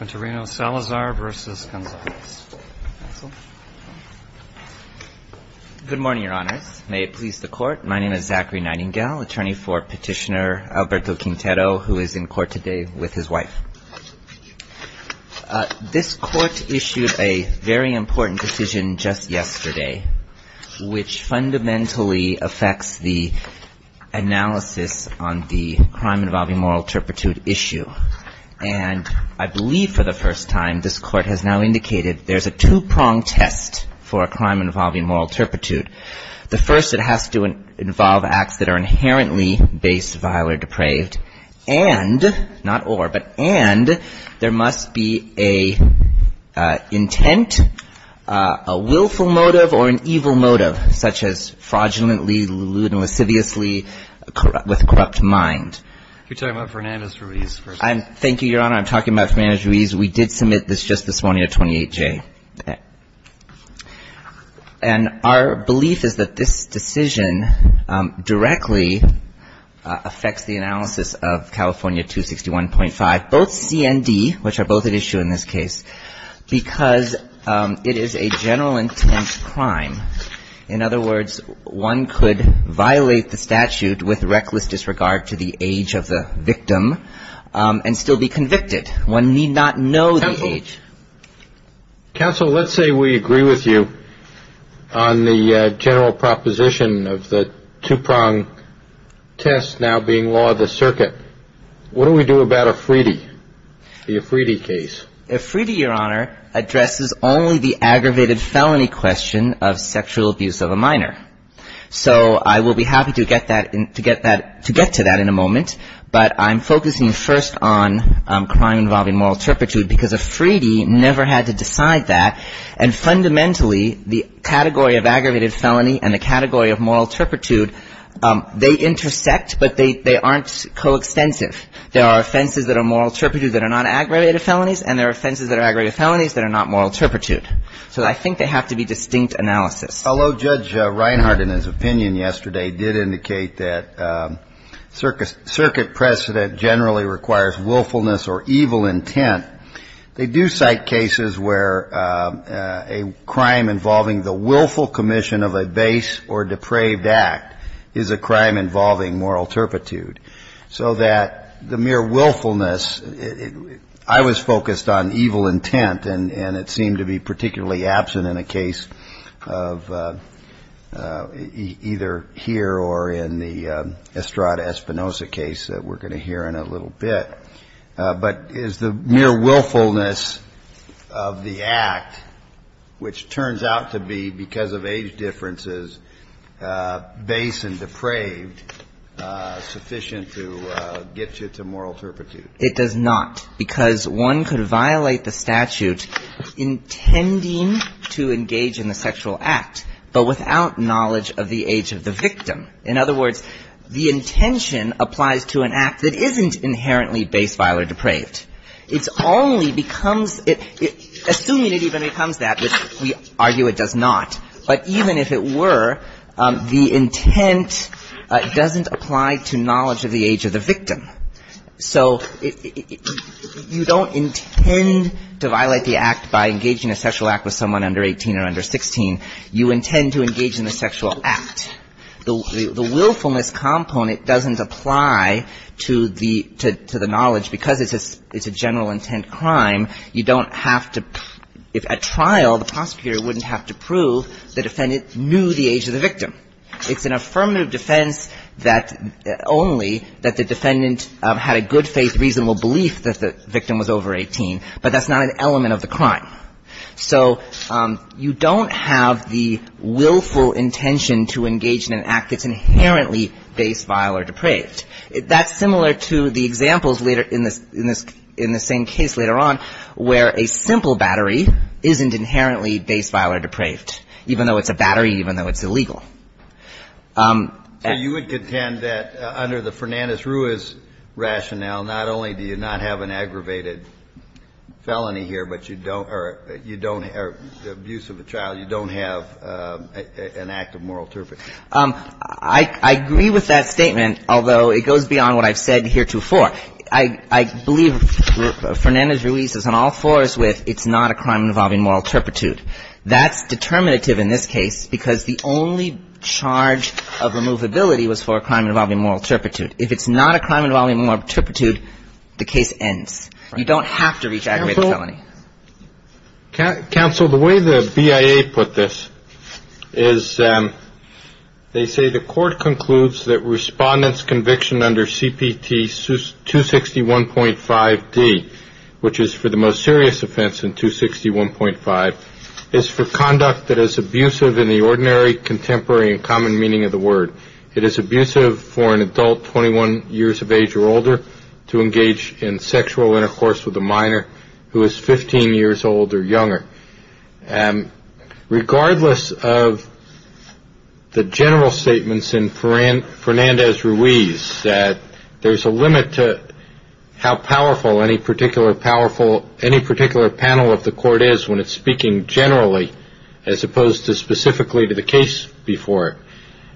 Good morning, Your Honors. May it please the Court, my name is Zachary Nightingale, attorney for Petitioner Alberto Quintero, who is in court today with his wife. This Court issued a very important decision just yesterday, which fundamentally affects the first time, this Court has now indicated there's a two-pronged test for a crime involving moral turpitude. The first, it has to involve acts that are inherently base, vile, or depraved. And, not or, but and, there must be an intent, a willful motive, or an evil motive, such as fraudulently, lewd, and lasciviously with corrupt mind. If you're talking about Fernandez-Ruiz, first of all. Thank you, Your Honor. I'm talking about Fernandez-Ruiz. We did submit this just this morning to 28J. And our belief is that this decision directly affects the analysis of California 261.5, both CND, which are both at issue in this case, because it is a general intent crime. In other words, one could violate the statute with reckless disregard to the age of the victim and still be convicted. One need not know the age. Counsel, let's say we agree with you on the general proposition of the two-pronged test now being law of the circuit. What do we do about Efridi, the Efridi case? Efridi, Your Honor, addresses only the aggravated felony question of sexual abuse of a minor. So I will be happy to get to that in a moment, but I'm focusing first on crime involving moral turpitude, because Efridi never had to decide that. And fundamentally, the category of aggravated felony and the category of moral turpitude, they intersect, but they aren't coextensive. There are offenses that are moral turpitude that are not aggravated felonies, and there are offenses that are aggravated felonies that are not moral turpitude. So I think they have to be distinct analysis. Although Judge Reinhardt in his opinion yesterday did indicate that circuit precedent generally requires willfulness or evil intent, they do cite cases where a crime involving the willful commission of a base or depraved act is a crime involving moral turpitude. I was focused on evil intent, and it seemed to be particularly absent in a case of either here or in the Estrada-Espinosa case that we're going to hear in a little bit. But is the mere willfulness of the act, which turns out to be, because of age differences, base and depraved, sufficient to get you to moral turpitude? It does not, because one could violate the statute intending to engage in the sexual act, but without knowledge of the age of the victim. In other words, the intention applies to an act that isn't inherently base, vile, or depraved. It only becomes – assuming it even becomes that, which we argue it does not, but even if it were, the intent doesn't apply to knowledge of the age of the victim. So you don't intend to violate the act by engaging in a sexual act with someone under 18 or under 16. You intend to engage in a sexual act. The willfulness component doesn't apply to the knowledge, because it's a general intent crime. You don't have to – if at trial, the prosecutor wouldn't have to prove the defendant knew the age of the victim, it's an affirmative defense that only that the defendant had a good faith, reasonable belief that the victim was over 18, but that's not an element of the crime. So you don't have the willful intention to engage in an act that's inherently base, vile, or depraved. That's similar to the examples later in this – in the same case later on, where a simple battery isn't inherently base, vile, or depraved, even though it's a battery, even though it's illegal. So you would contend that under the Fernandez-Ruiz rationale, not only do you not have an aggravated felony here, but you don't – or abuse of a child, you don't have an act of moral turpitude. I agree with that statement, although it goes beyond what I've said heretofore. I believe Fernandez-Ruiz is on all fours with it's not a crime involving moral turpitude. That's determinative in this case, because the only charge of removability was for a crime involving moral turpitude. If it's not a crime involving moral turpitude, the case ends. You don't have to reach aggravated felony. Counsel, the way the BIA put this is they say the court concludes that Respondent's conviction under CPT 261.5d, which is for the most serious offense in 261.5, is not for conduct that is abusive in the ordinary, contemporary, and common meaning of the word. It is abusive for an adult 21 years of age or older to engage in sexual intercourse with a minor who is 15 years old or younger. Regardless of the general statements in Fernandez-Ruiz that there's a limit to how powerful any particular panel of the court is when it's speaking generally as opposed to specifically to the case before it.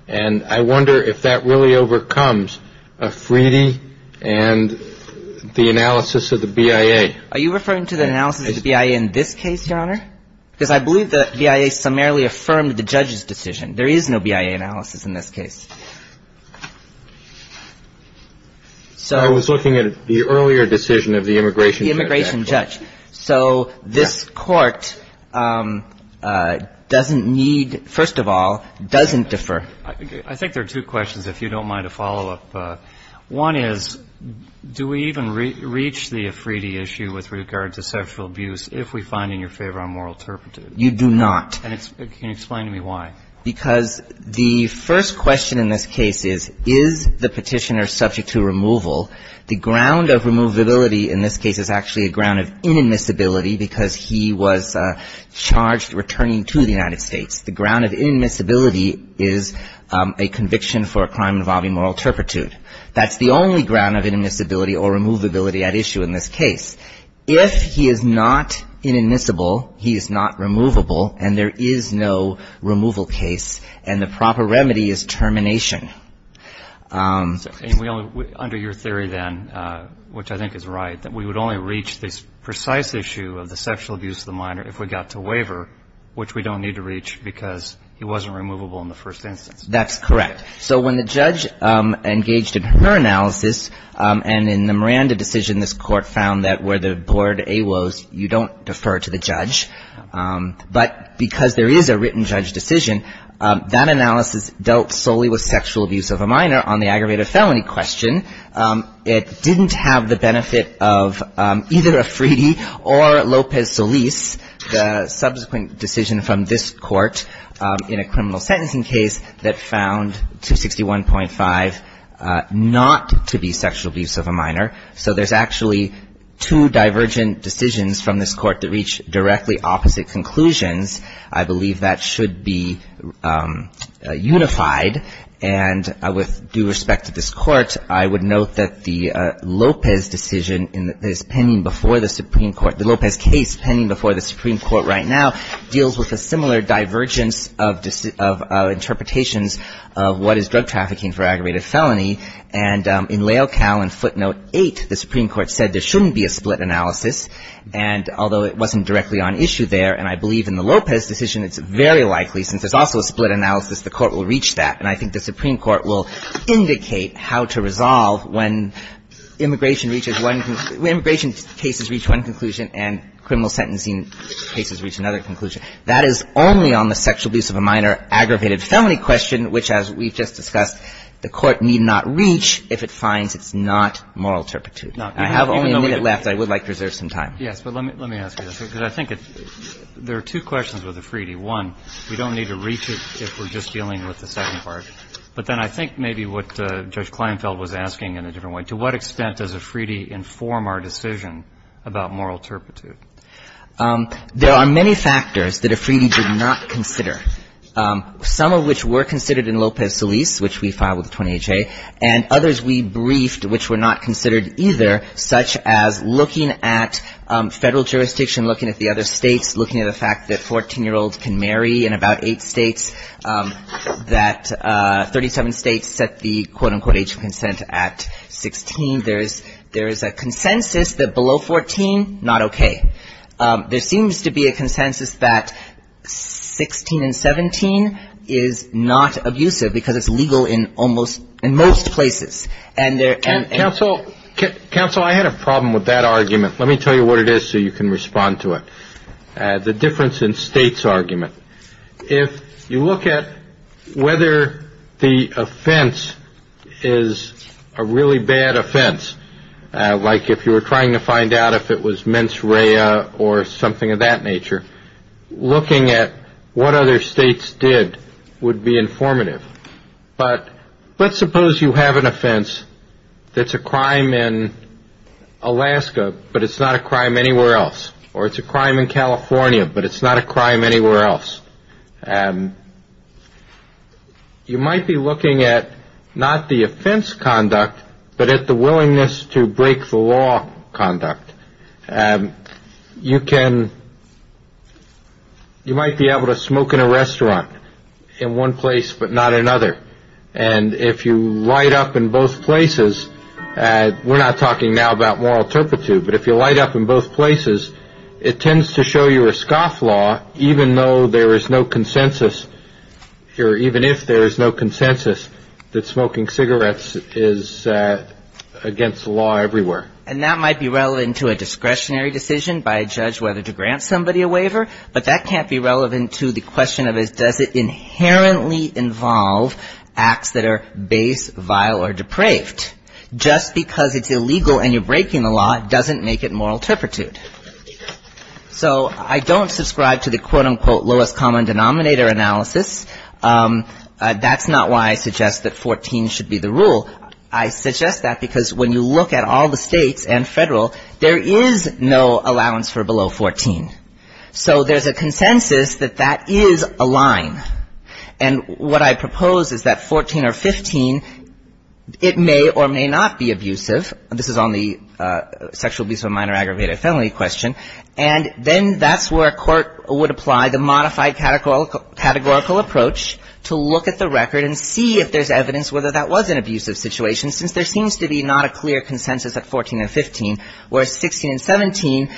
And I wonder if that really overcomes a Freedy and the analysis of the BIA. Are you referring to the analysis of the BIA in this case, Your Honor? Because I believe the BIA summarily affirmed the judge's decision. There is no BIA analysis in this case. I was looking at the earlier decision of the immigration judge. The immigration judge. So this court doesn't need, first of all, doesn't defer. I think there are two questions, if you don't mind a follow-up. One is, do we even reach the Freedy issue with regard to sexual abuse if we find in your favor I'm morally interpreted? You do not. And can you explain to me why? Because the first question in this case is, is the petitioner subject to removal? The ground of removability in this case is actually a ground of inadmissibility because he was charged returning to the United States. The ground of inadmissibility is a conviction for a crime involving moral turpitude. That's the only ground of inadmissibility or removability at issue in this case. If he is not inadmissible, he is not removable, and there is no removal case, and the proper remedy is termination. Under your theory then, which I think is right, that we would only reach this precise issue of the sexual abuse of the minor if we got to waiver, which we don't need to reach because he wasn't removable in the first instance. That's correct. So when the judge engaged in her analysis and in the Miranda decision, this court found that where the board A woes, you don't defer to the judge, but because there is a written judge decision, that analysis dealt solely with sexual abuse of a minor on the aggravated felony question. It didn't have the benefit of either a Freedy or Lopez Solis, the subsequent decision from this court in a criminal sentencing case that found 261.5 not to be sexual abuse of a minor. So there's actually two divergent decisions from this court that reach directly opposite conclusions. I believe that should be unified, and with due respect to this court, I would note that the Lopez decision is pending before the Supreme Court. The Lopez case pending before the Supreme Court right now deals with a similar divergence of interpretations of what is drug trafficking for aggravated felony. And in Lael Cal in footnote 8, the Supreme Court said there shouldn't be a split analysis, and although it wasn't directly on issue there, and I believe in the Lopez decision, it's very likely since there's also a split analysis, the court will reach that. And I think the Supreme Court will indicate how to resolve when immigration reaches one, when immigration cases reach one conclusion, and criminal sentencing cases reach another conclusion. That is only on the sexual abuse of a minor aggravated felony question, which, as we've just discussed, the court need not reach if it finds it's not moral turpitude. I have only a minute left. I would like to reserve some time. Yes, but let me ask you this, because I think there are two questions with the Freedy. One, we don't need to reach it if we're just dealing with the second part. But then I think maybe what Judge Kleinfeld was asking in a different way, to what extent does a Freedy inform our decision about moral turpitude? There are many factors that a Freedy did not consider, some of which were considered in Lopez-Solis, which we filed with the 20HA, and others we briefed which were not considered either, such as looking at Federal jurisdiction, looking at the other states, looking at the fact that 14-year-olds can marry in about eight states, that 37 states set the, quote, unquote, age of consent at 16. There is a consensus that below 14, not okay. There seems to be a consensus that 16 and 17 is not abusive, because it's legal in almost, in most places. And there are. Counsel, I had a problem with that argument. Let me tell you what it is so you can respond to it. The difference in states argument. If you look at whether the offense is a really bad offense, like if you were trying to find out if it was mens rea or something of that nature, looking at what other states did would be informative. But let's suppose you have an offense that's a crime in Alaska, but it's not a crime anywhere else, or it's a crime in California, but it's not a crime anywhere else. You might be looking at not the offense conduct, but at the willingness to break the law conduct. You can, you might be able to smoke in a restaurant in one place but not another. And if you light up in both places, we're not talking now about moral turpitude, but if you light up in both places, it tends to show you a scoff law even though there is no consensus, or even if there is no consensus that smoking cigarettes is against the law everywhere. And that might be relevant to a discretionary decision by a judge whether to grant somebody a waiver, but that can't be relevant to the question of does it inherently involve acts that are base, vile, or depraved. Just because it's illegal and you're breaking the law doesn't make it moral turpitude. So I don't subscribe to the quote, unquote lowest common denominator analysis. That's not why I suggest that 14 should be the rule. I suggest that because when you look at all the states and federal, there is no allowance for below 14. So there's a consensus that that is a line. And what I propose is that 14 or 15, it may or may not be abusive. This is on the sexual abuse of a minor aggravated felony question. And then that's where a court would apply the modified categorical approach to look at the record and see if there's evidence whether that was an abusive situation, since there seems to be not a clear consensus at 14 or 15, whereas 16 and 17,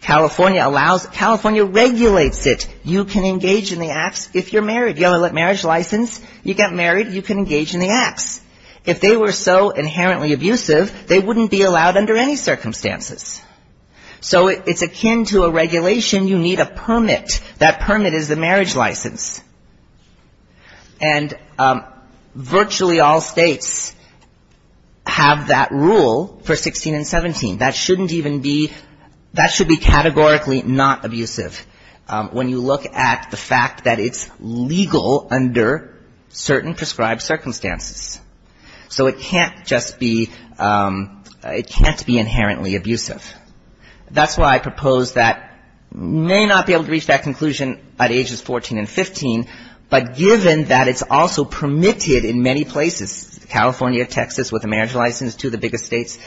California allows, California regulates it. You can engage in the acts if you're married. You have a marriage license, you get married, you can engage in the acts. If they were so inherently abusive, they wouldn't be allowed under any circumstances. So it's akin to a regulation, you need a permit. That permit is the marriage license. And virtually all states have that rule for 16 and 17. That shouldn't even be, that should be categorically not abusive, when you look at the fact that it's legal under certain prescribed circumstances. So it can't just be, it can't be inherently abusive. That's why I propose that you may not be able to reach that conclusion at ages 14 and 15, but given that it's also permitted in many places, California, Texas, with a marriage license, two of the biggest states,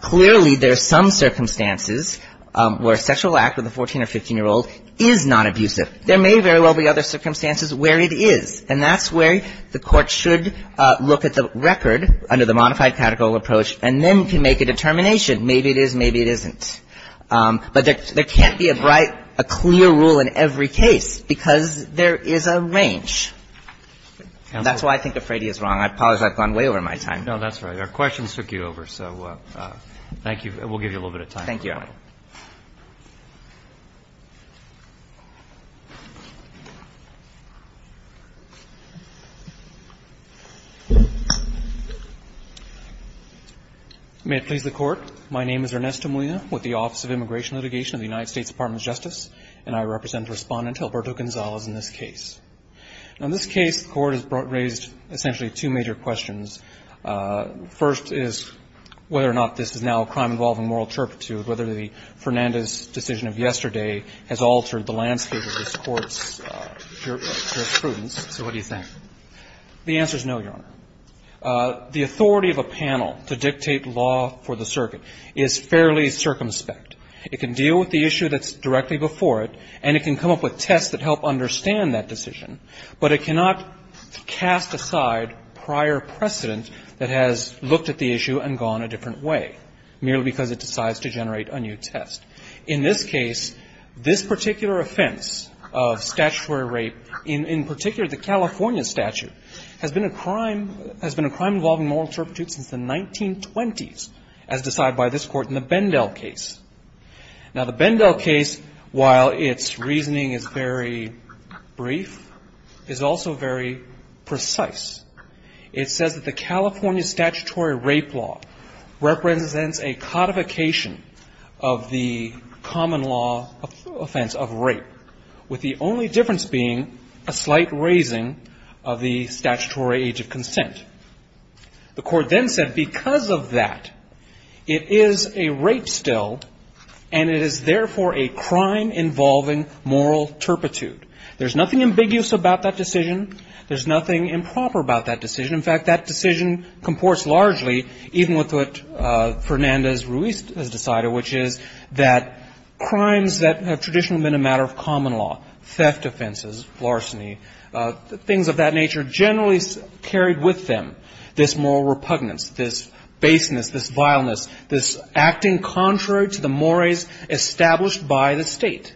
clearly there are some circumstances where a sexual act with a 14 or 15-year-old is nonabusive. There may very well be other circumstances where it is. And that's where the Court should look at the record under the modified categorical approach and then can make a determination. Maybe it is, maybe it isn't. But there can't be a bright, a clear rule in every case, because there is a range. And that's why I think Afredi is wrong. I apologize. I've gone way over my time. No, that's all right. Our questions took you over. So thank you. We'll give you a little bit of time. Thank you. May it please the Court. My name is Ernesto Molina with the Office of Immigration Litigation of the United States Department of Justice, and I represent Respondent Alberto Gonzalez in this case. Now, in this case, the Court has raised essentially two major questions. First is whether or not this is now a crime involving moral turpitude, whether the Fernandez decision of yesterday has altered the landscape of this Court's jurisprudence. So what do you think? The answer is no, Your Honor. The authority of a panel to dictate law for the circuit is fairly circumspect. It can deal with the issue that's directly before it, and it can come up with tests that help understand that decision, but it cannot cast aside prior precedent that has looked at the issue and gone a different way, merely because it decides to generate a new test. In this case, this particular offense of statutory rape, in particular the California statute, has been a crime involving moral turpitude since the 1920s, as decided by this Court in the Bendell case. Now, the Bendell case, while its reasoning is very brief, is also very precise. It says that the California statutory rape law represents a codification of the common law offense of rape, with the only difference being a slight raising of the statutory age of consent. The Court then said, because of that, it is a rape still, but it's not a crime. And it is, therefore, a crime involving moral turpitude. There's nothing ambiguous about that decision. There's nothing improper about that decision. In fact, that decision comports largely, even with what Fernandez-Ruiz has decided, which is that crimes that have traditionally been a matter of common law, theft offenses, larceny, things of that nature, generally carried with them this moral repugnance, this baseness, this vileness, this acting contrary to the mores established by the State.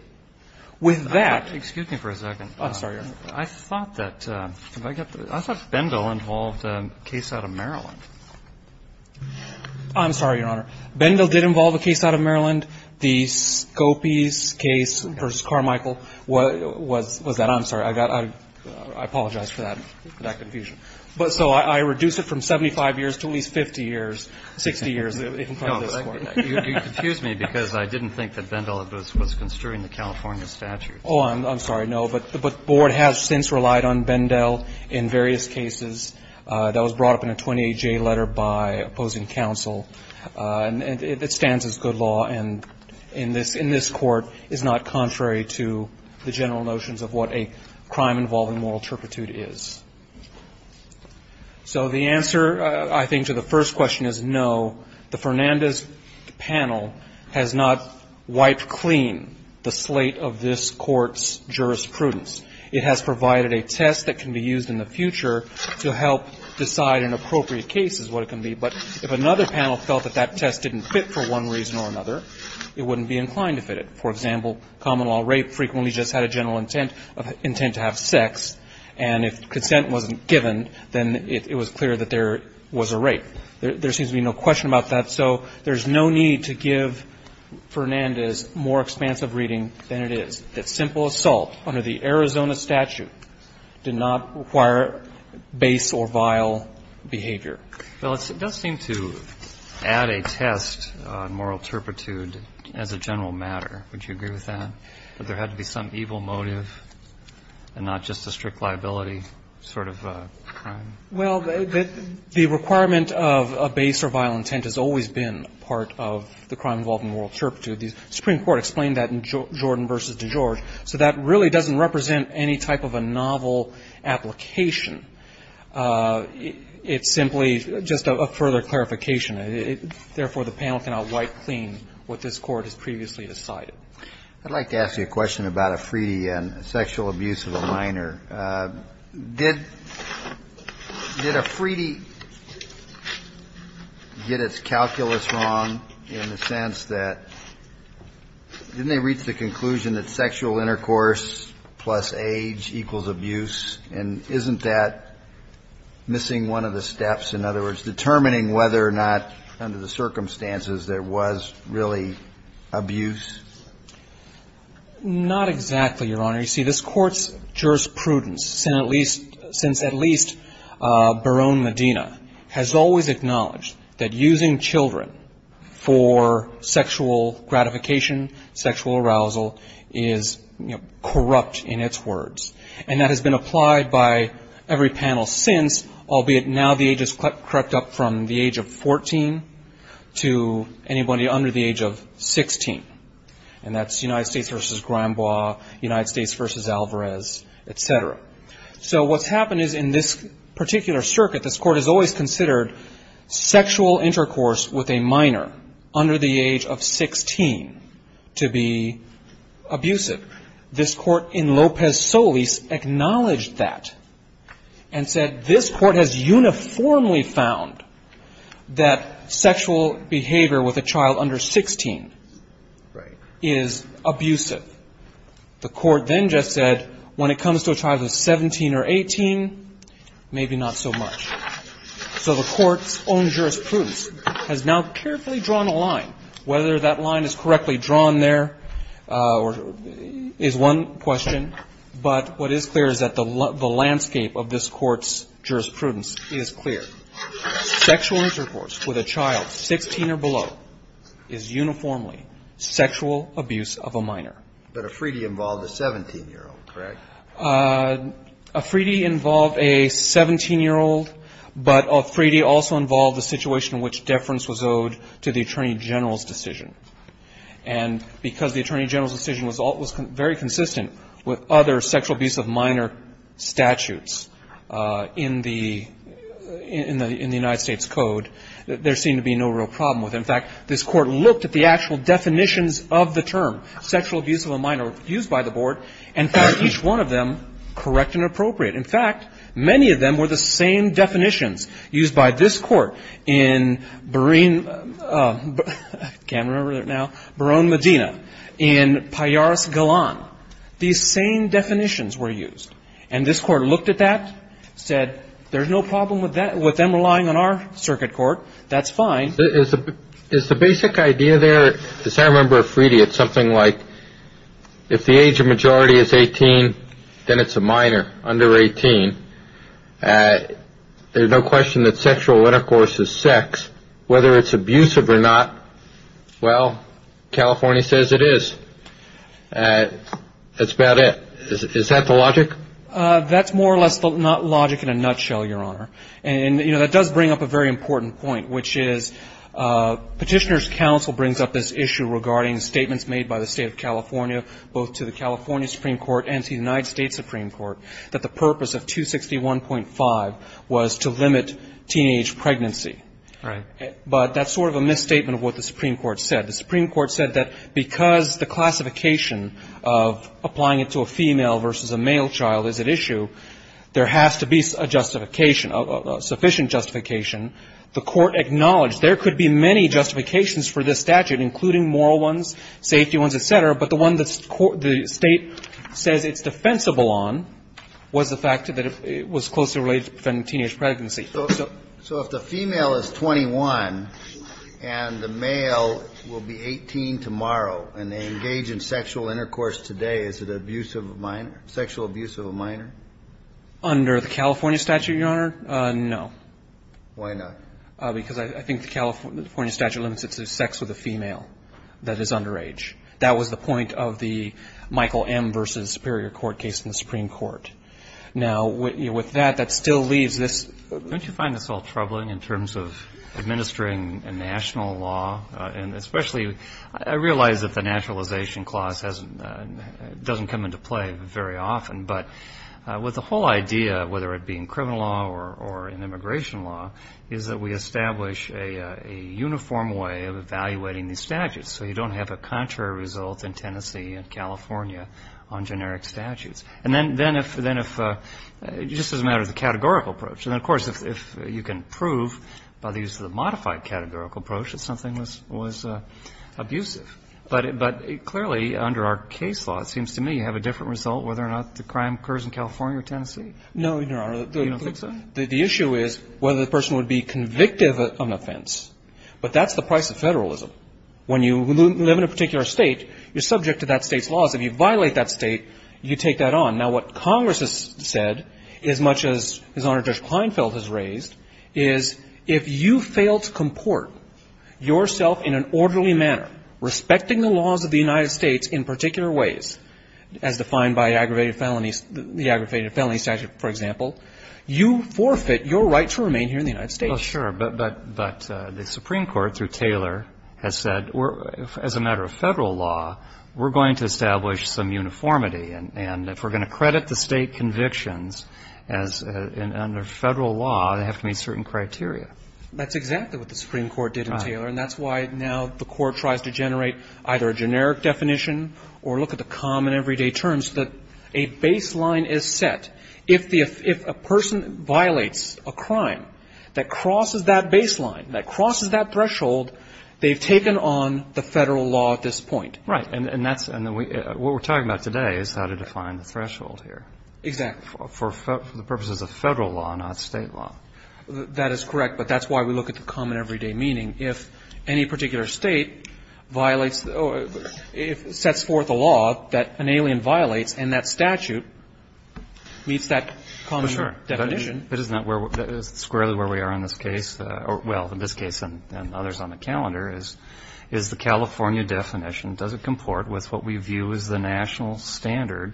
With that --" Roberts, excuse me for a second. I'm sorry, Your Honor. I thought that, have I got the right? I thought Bendell involved a case out of Maryland. I'm sorry, Your Honor. Bendell did involve a case out of Maryland. The Scopys case versus Carmichael was that. I'm sorry. I apologize for that confusion. So I reduce it from 75 years to at least 50 years, 60 years in front of this Court. You confuse me because I didn't think that Bendell was construing the California statute. Oh, I'm sorry. No. But the Board has since relied on Bendell in various cases. That was brought up in a 28J letter by opposing counsel. It stands as good law and in this Court is not contrary to the general notions of what a crime involving moral turpitude is. So the answer, I think, to the first question is no. The Fernandez panel has not wiped clean the slate of this Court's jurisprudence. It has provided a test that can be used in the future to help decide in appropriate cases what it can be. But if another panel felt that that test didn't fit for one reason or another, it wouldn't be inclined to fit it. For example, common law rape frequently just had a general intent to have sex. And if consent wasn't given, then it was clear that there was a rape. There seems to be no question about that. So there's no need to give Fernandez more expansive reading than it is, that simple assault under the Arizona statute did not require base or vile behavior. Well, it does seem to add a test on moral turpitude as a general matter. Would you agree with that? But there had to be some evil motive and not just a strict liability sort of crime. Well, the requirement of a base or vile intent has always been part of the crime involving moral turpitude. The Supreme Court explained that in Jordan v. DeGeorge. So that really doesn't represent any type of a novel application. It's simply just a further clarification. Therefore, the panel cannot wipe clean what this Court has previously decided. I'd like to ask you a question about Afridi and sexual abuse of a minor. Did Afridi get its calculus wrong in the sense that didn't they reach the conclusion that sexual intercourse plus age equals abuse? And isn't that missing one of the steps, in other words, determining whether or not under the circumstances there was really abuse? Not exactly, Your Honor. You see, this Court's jurisprudence, since at least Barone Medina, has always acknowledged that using children for sexual gratification, sexual arousal, is corrupt in its words. And that has been applied by every panel since, albeit now the age has crept up from the age of 14 to anybody under the age of 16. And that's United States v. Granbois, United States v. Alvarez, et cetera. So what's happened is in this particular circuit, this Court has always considered sexual intercourse with a minor under the age of 16 to be abusive. This Court in Lopez-Solis acknowledged that and said this Court has uniformly found that sexual behavior with a child under 16 is abusive. The Court then just said when it comes to a child of 17 or 18, maybe not so much. So the Court's own jurisprudence has now carefully drawn a line, whether that line is correctly drawn there is one question, but what is clear is that the landscape of this Court's jurisprudence is clear. Sexual intercourse with a child 16 or below is uniformly sexual abuse of a minor. But a Freedy involved a 17-year-old, correct? A Freedy involved a 17-year-old, but a Freedy also involved a situation in which to the Attorney General's decision. And because the Attorney General's decision was very consistent with other sexual abuse of minor statutes in the United States Code, there seemed to be no real problem with it. In fact, this Court looked at the actual definitions of the term sexual abuse of a minor used by the Board, and found each one of them correct and appropriate. In fact, many of them were the same definitions used by this Court in Barone, I can't remember it now, Barone Medina, in Pajaros Galan. These same definitions were used. And this Court looked at that, said there's no problem with them relying on our circuit court, that's fine. Is the basic idea there, as I remember of Freedy, it's something like if the age of majority is 18, then it's a minor, under 18. There's no question that sexual intercourse is sex. Whether it's abusive or not, well, California says it is. That's about it. Is that the logic? That's more or less the logic in a nutshell, Your Honor. And, you know, that does bring up a very important point, which is Petitioner's state of California, both to the California Supreme Court and to the United States Supreme Court, that the purpose of 261.5 was to limit teenage pregnancy. But that's sort of a misstatement of what the Supreme Court said. The Supreme Court said that because the classification of applying it to a female versus a male child is at issue, there has to be a justification, a sufficient justification. The Court acknowledged there could be many justifications for this statute, including moral ones, safety ones, et cetera. But the one that the State says it's defensible on was the fact that it was closely related to preventing teenage pregnancy. So if the female is 21 and the male will be 18 tomorrow and they engage in sexual intercourse today, is it an abuse of a minor, sexual abuse of a minor? Under the California statute, Your Honor, no. Why not? Because I think the California statute limits it to sex with a female that is under age. That was the point of the Michael M. v. Superior Court case in the Supreme Court. Now, with that, that still leaves this. Don't you find this all troubling in terms of administering a national law? And especially, I realize that the nationalization clause doesn't come into play very often. But with the whole idea, whether it be in criminal law or in immigration law, is that we establish a uniform way of evaluating these statutes. So you don't have a contrary result in Tennessee and California on generic statutes. And then if, just as a matter of the categorical approach, and of course, if you can prove by the use of the modified categorical approach that something was abusive, but clearly under our case law, it seems to me you have a different result whether or not the crime occurs in California or Tennessee. No, Your Honor. You don't think so? The issue is whether the person would be convictive of an offense. But that's the price of federalism. When you live in a particular state, you're subject to that state's laws. If you violate that state, you take that on. Now, what Congress has said, as much as His Honor Judge Kleinfeld has raised, is if you fail to comport yourself in an orderly manner, respecting the laws of the United States in particular ways, as defined by aggravated felonies, the aggravated to remain here in the United States. Well, sure. But the Supreme Court, through Taylor, has said, as a matter of federal law, we're going to establish some uniformity. And if we're going to credit the state convictions as under federal law, they have to meet certain criteria. That's exactly what the Supreme Court did in Taylor. Right. And that's why now the Court tries to generate either a generic definition or look at the common everyday terms so that a baseline is set. If a person violates a crime that crosses that baseline, that crosses that threshold, they've taken on the federal law at this point. Right. And what we're talking about today is how to define the threshold here. Exactly. For the purposes of federal law, not state law. That is correct. But that's why we look at the common everyday meaning. If any particular state violates or sets forth a law that an alien violates, and that statute meets that common definition. Well, sure. But isn't that squarely where we are in this case? Well, in this case and others on the calendar, is the California definition, does it comport with what we view as the national standard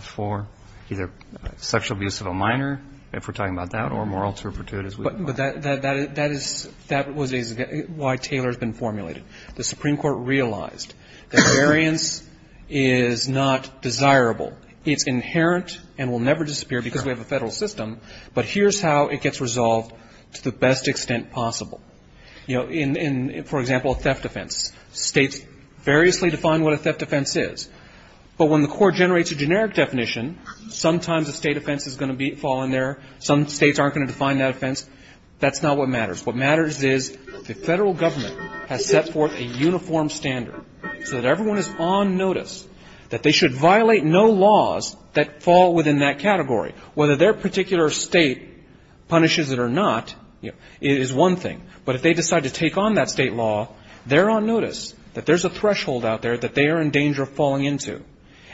for either sexual abuse of a minor, if we're talking about that, or moral turpitude, as we call it? But that is why Taylor has been formulated. The Supreme Court realized that variance is not desirable. It's inherent and will never disappear because we have a federal system. But here's how it gets resolved to the best extent possible. You know, in, for example, a theft offense. States variously define what a theft offense is. But when the court generates a generic definition, sometimes a state offense is going to fall in there. Some states aren't going to define that offense. That's not what matters. What matters is the federal government has set forth a uniform standard so that everyone is on notice that they should violate no laws that fall within that category. Whether their particular state punishes it or not is one thing. But if they decide to take on that state law, they're on notice that there's a threshold out there that they are in danger of falling into,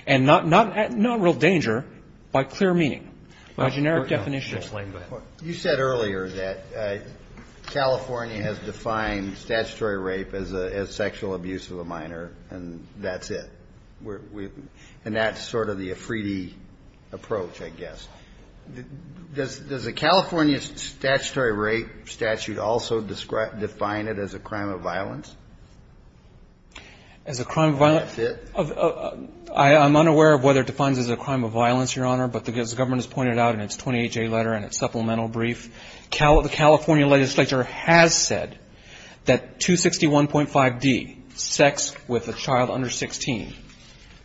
and not real danger by clear meaning, by generic definition. You said earlier that California has defined statutory rape as sexual abuse of a minor, and that's it. And that's sort of the Afridi approach, I guess. Does the California statutory rape statute also define it as a crime of violence? As a crime of violence? That's it. I'm unaware of whether it defines it as a crime of violence, Your Honor. But as the government has pointed out in its 28J letter and its supplemental brief, the California legislature has said that 261.5d, sex with a child under 16,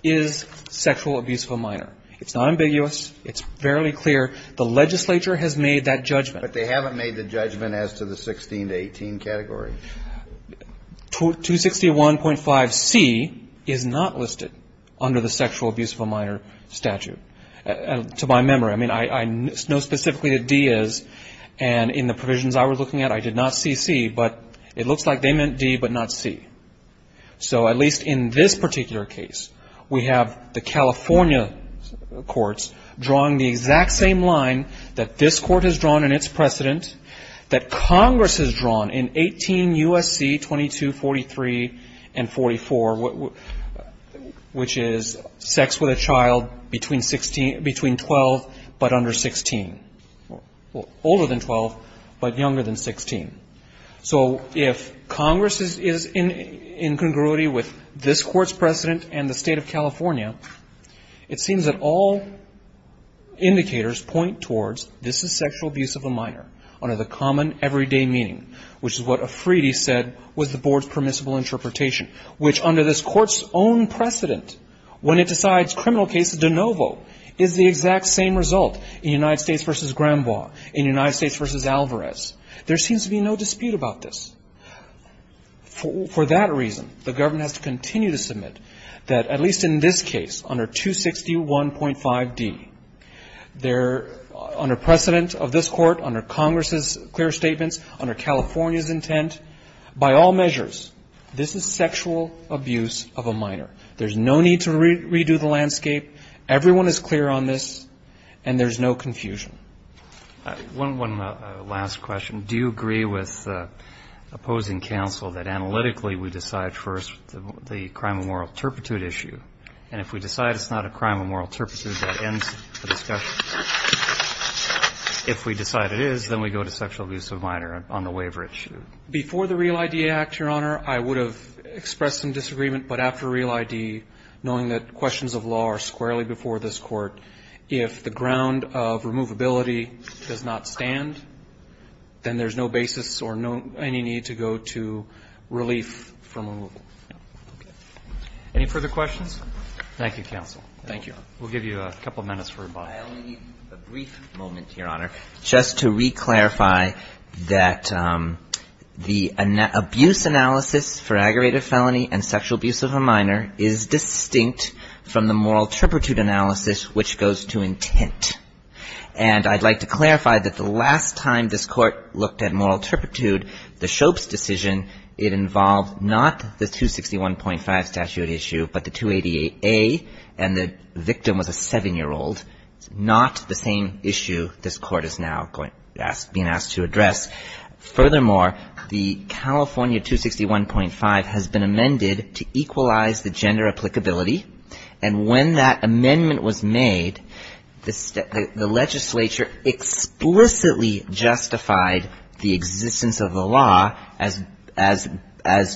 is sexual abuse of a minor. It's not ambiguous. It's fairly clear. The legislature has made that judgment. But they haven't made the judgment as to the 16 to 18 category. 261.5c is not listed under the sexual abuse of a minor statute. To my memory. I mean, I know specifically that d is. And in the provisions I was looking at, I did not see c, but it looks like they meant d but not c. So at least in this particular case, we have the California courts drawing the exact same line that this court has drawn in its precedent, that Congress has drawn in 18 U.S.C. 2243 and 44, which is sex with a child between 12 but under 16. Older than 12, but younger than 16. So if Congress is in congruity with this Court's precedent and the State of California, it seems that all indicators point towards this is sexual abuse of a minor under the common everyday meaning, which is what Afridi said was the Board's permissible interpretation, which under this Court's own precedent, when it decides criminal cases de novo, is the exact same result in United States v. Grandbois, in United States v. Alvarez. There seems to be no dispute about this. For that reason, the government has to continue to submit that at least in this case, under 261.5d, under precedent of this Court, under Congress's clear statements, under California's intent, by all measures, this is sexual abuse of a minor. There's no need to redo the landscape. Everyone is clear on this, and there's no confusion. One last question. Do you agree with opposing counsel that analytically we decide first the crime of moral turpitude issue, and if we decide it's not a crime of moral turpitude, that ends the discussion? If we decide it is, then we go to sexual abuse of a minor on the waiver issue. Before the REAL ID Act, Your Honor, I would have expressed some disagreement, but after REAL ID, knowing that questions of law are squarely before this Court, if the ground of removability does not stand, then there's no basis or any need to go to relief from removal. Any further questions? Thank you, counsel. Thank you. We'll give you a couple of minutes for rebuttal. I only need a brief moment, Your Honor, just to re-clarify that the abuse analysis for aggravated felony and sexual abuse of a minor is distinct from the moral turpitude analysis, which goes to intent. And I'd like to clarify that the last time this Court looked at moral turpitude, the Schoeps decision, it involved not the 261.5 statute issue, but the 288A, and the victim was a 7-year-old. It's not the same issue this Court is now being asked to address. Furthermore, the California 261.5 has been amended to equalize the gender applicability. And when that amendment was made, the legislature explicitly justified the existence of the law as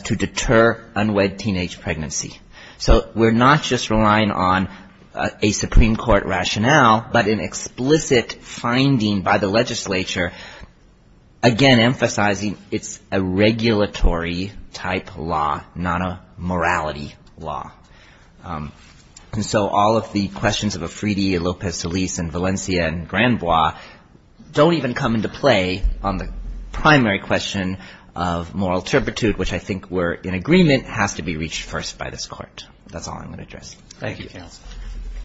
to deter unwed teenage pregnancy. So we're not just relying on a Supreme Court rationale, but an explicit finding by the legislature again emphasizing it's a regulatory-type law, not a morality law. And so all of the questions of Afridi, Lopez-Deliz, and Valencia, and Grandbois don't even come into play on the primary question of moral turpitude, which I think we're in agreement has to be reached first by this Court. That's all I'm going to address. Thank you, counsel.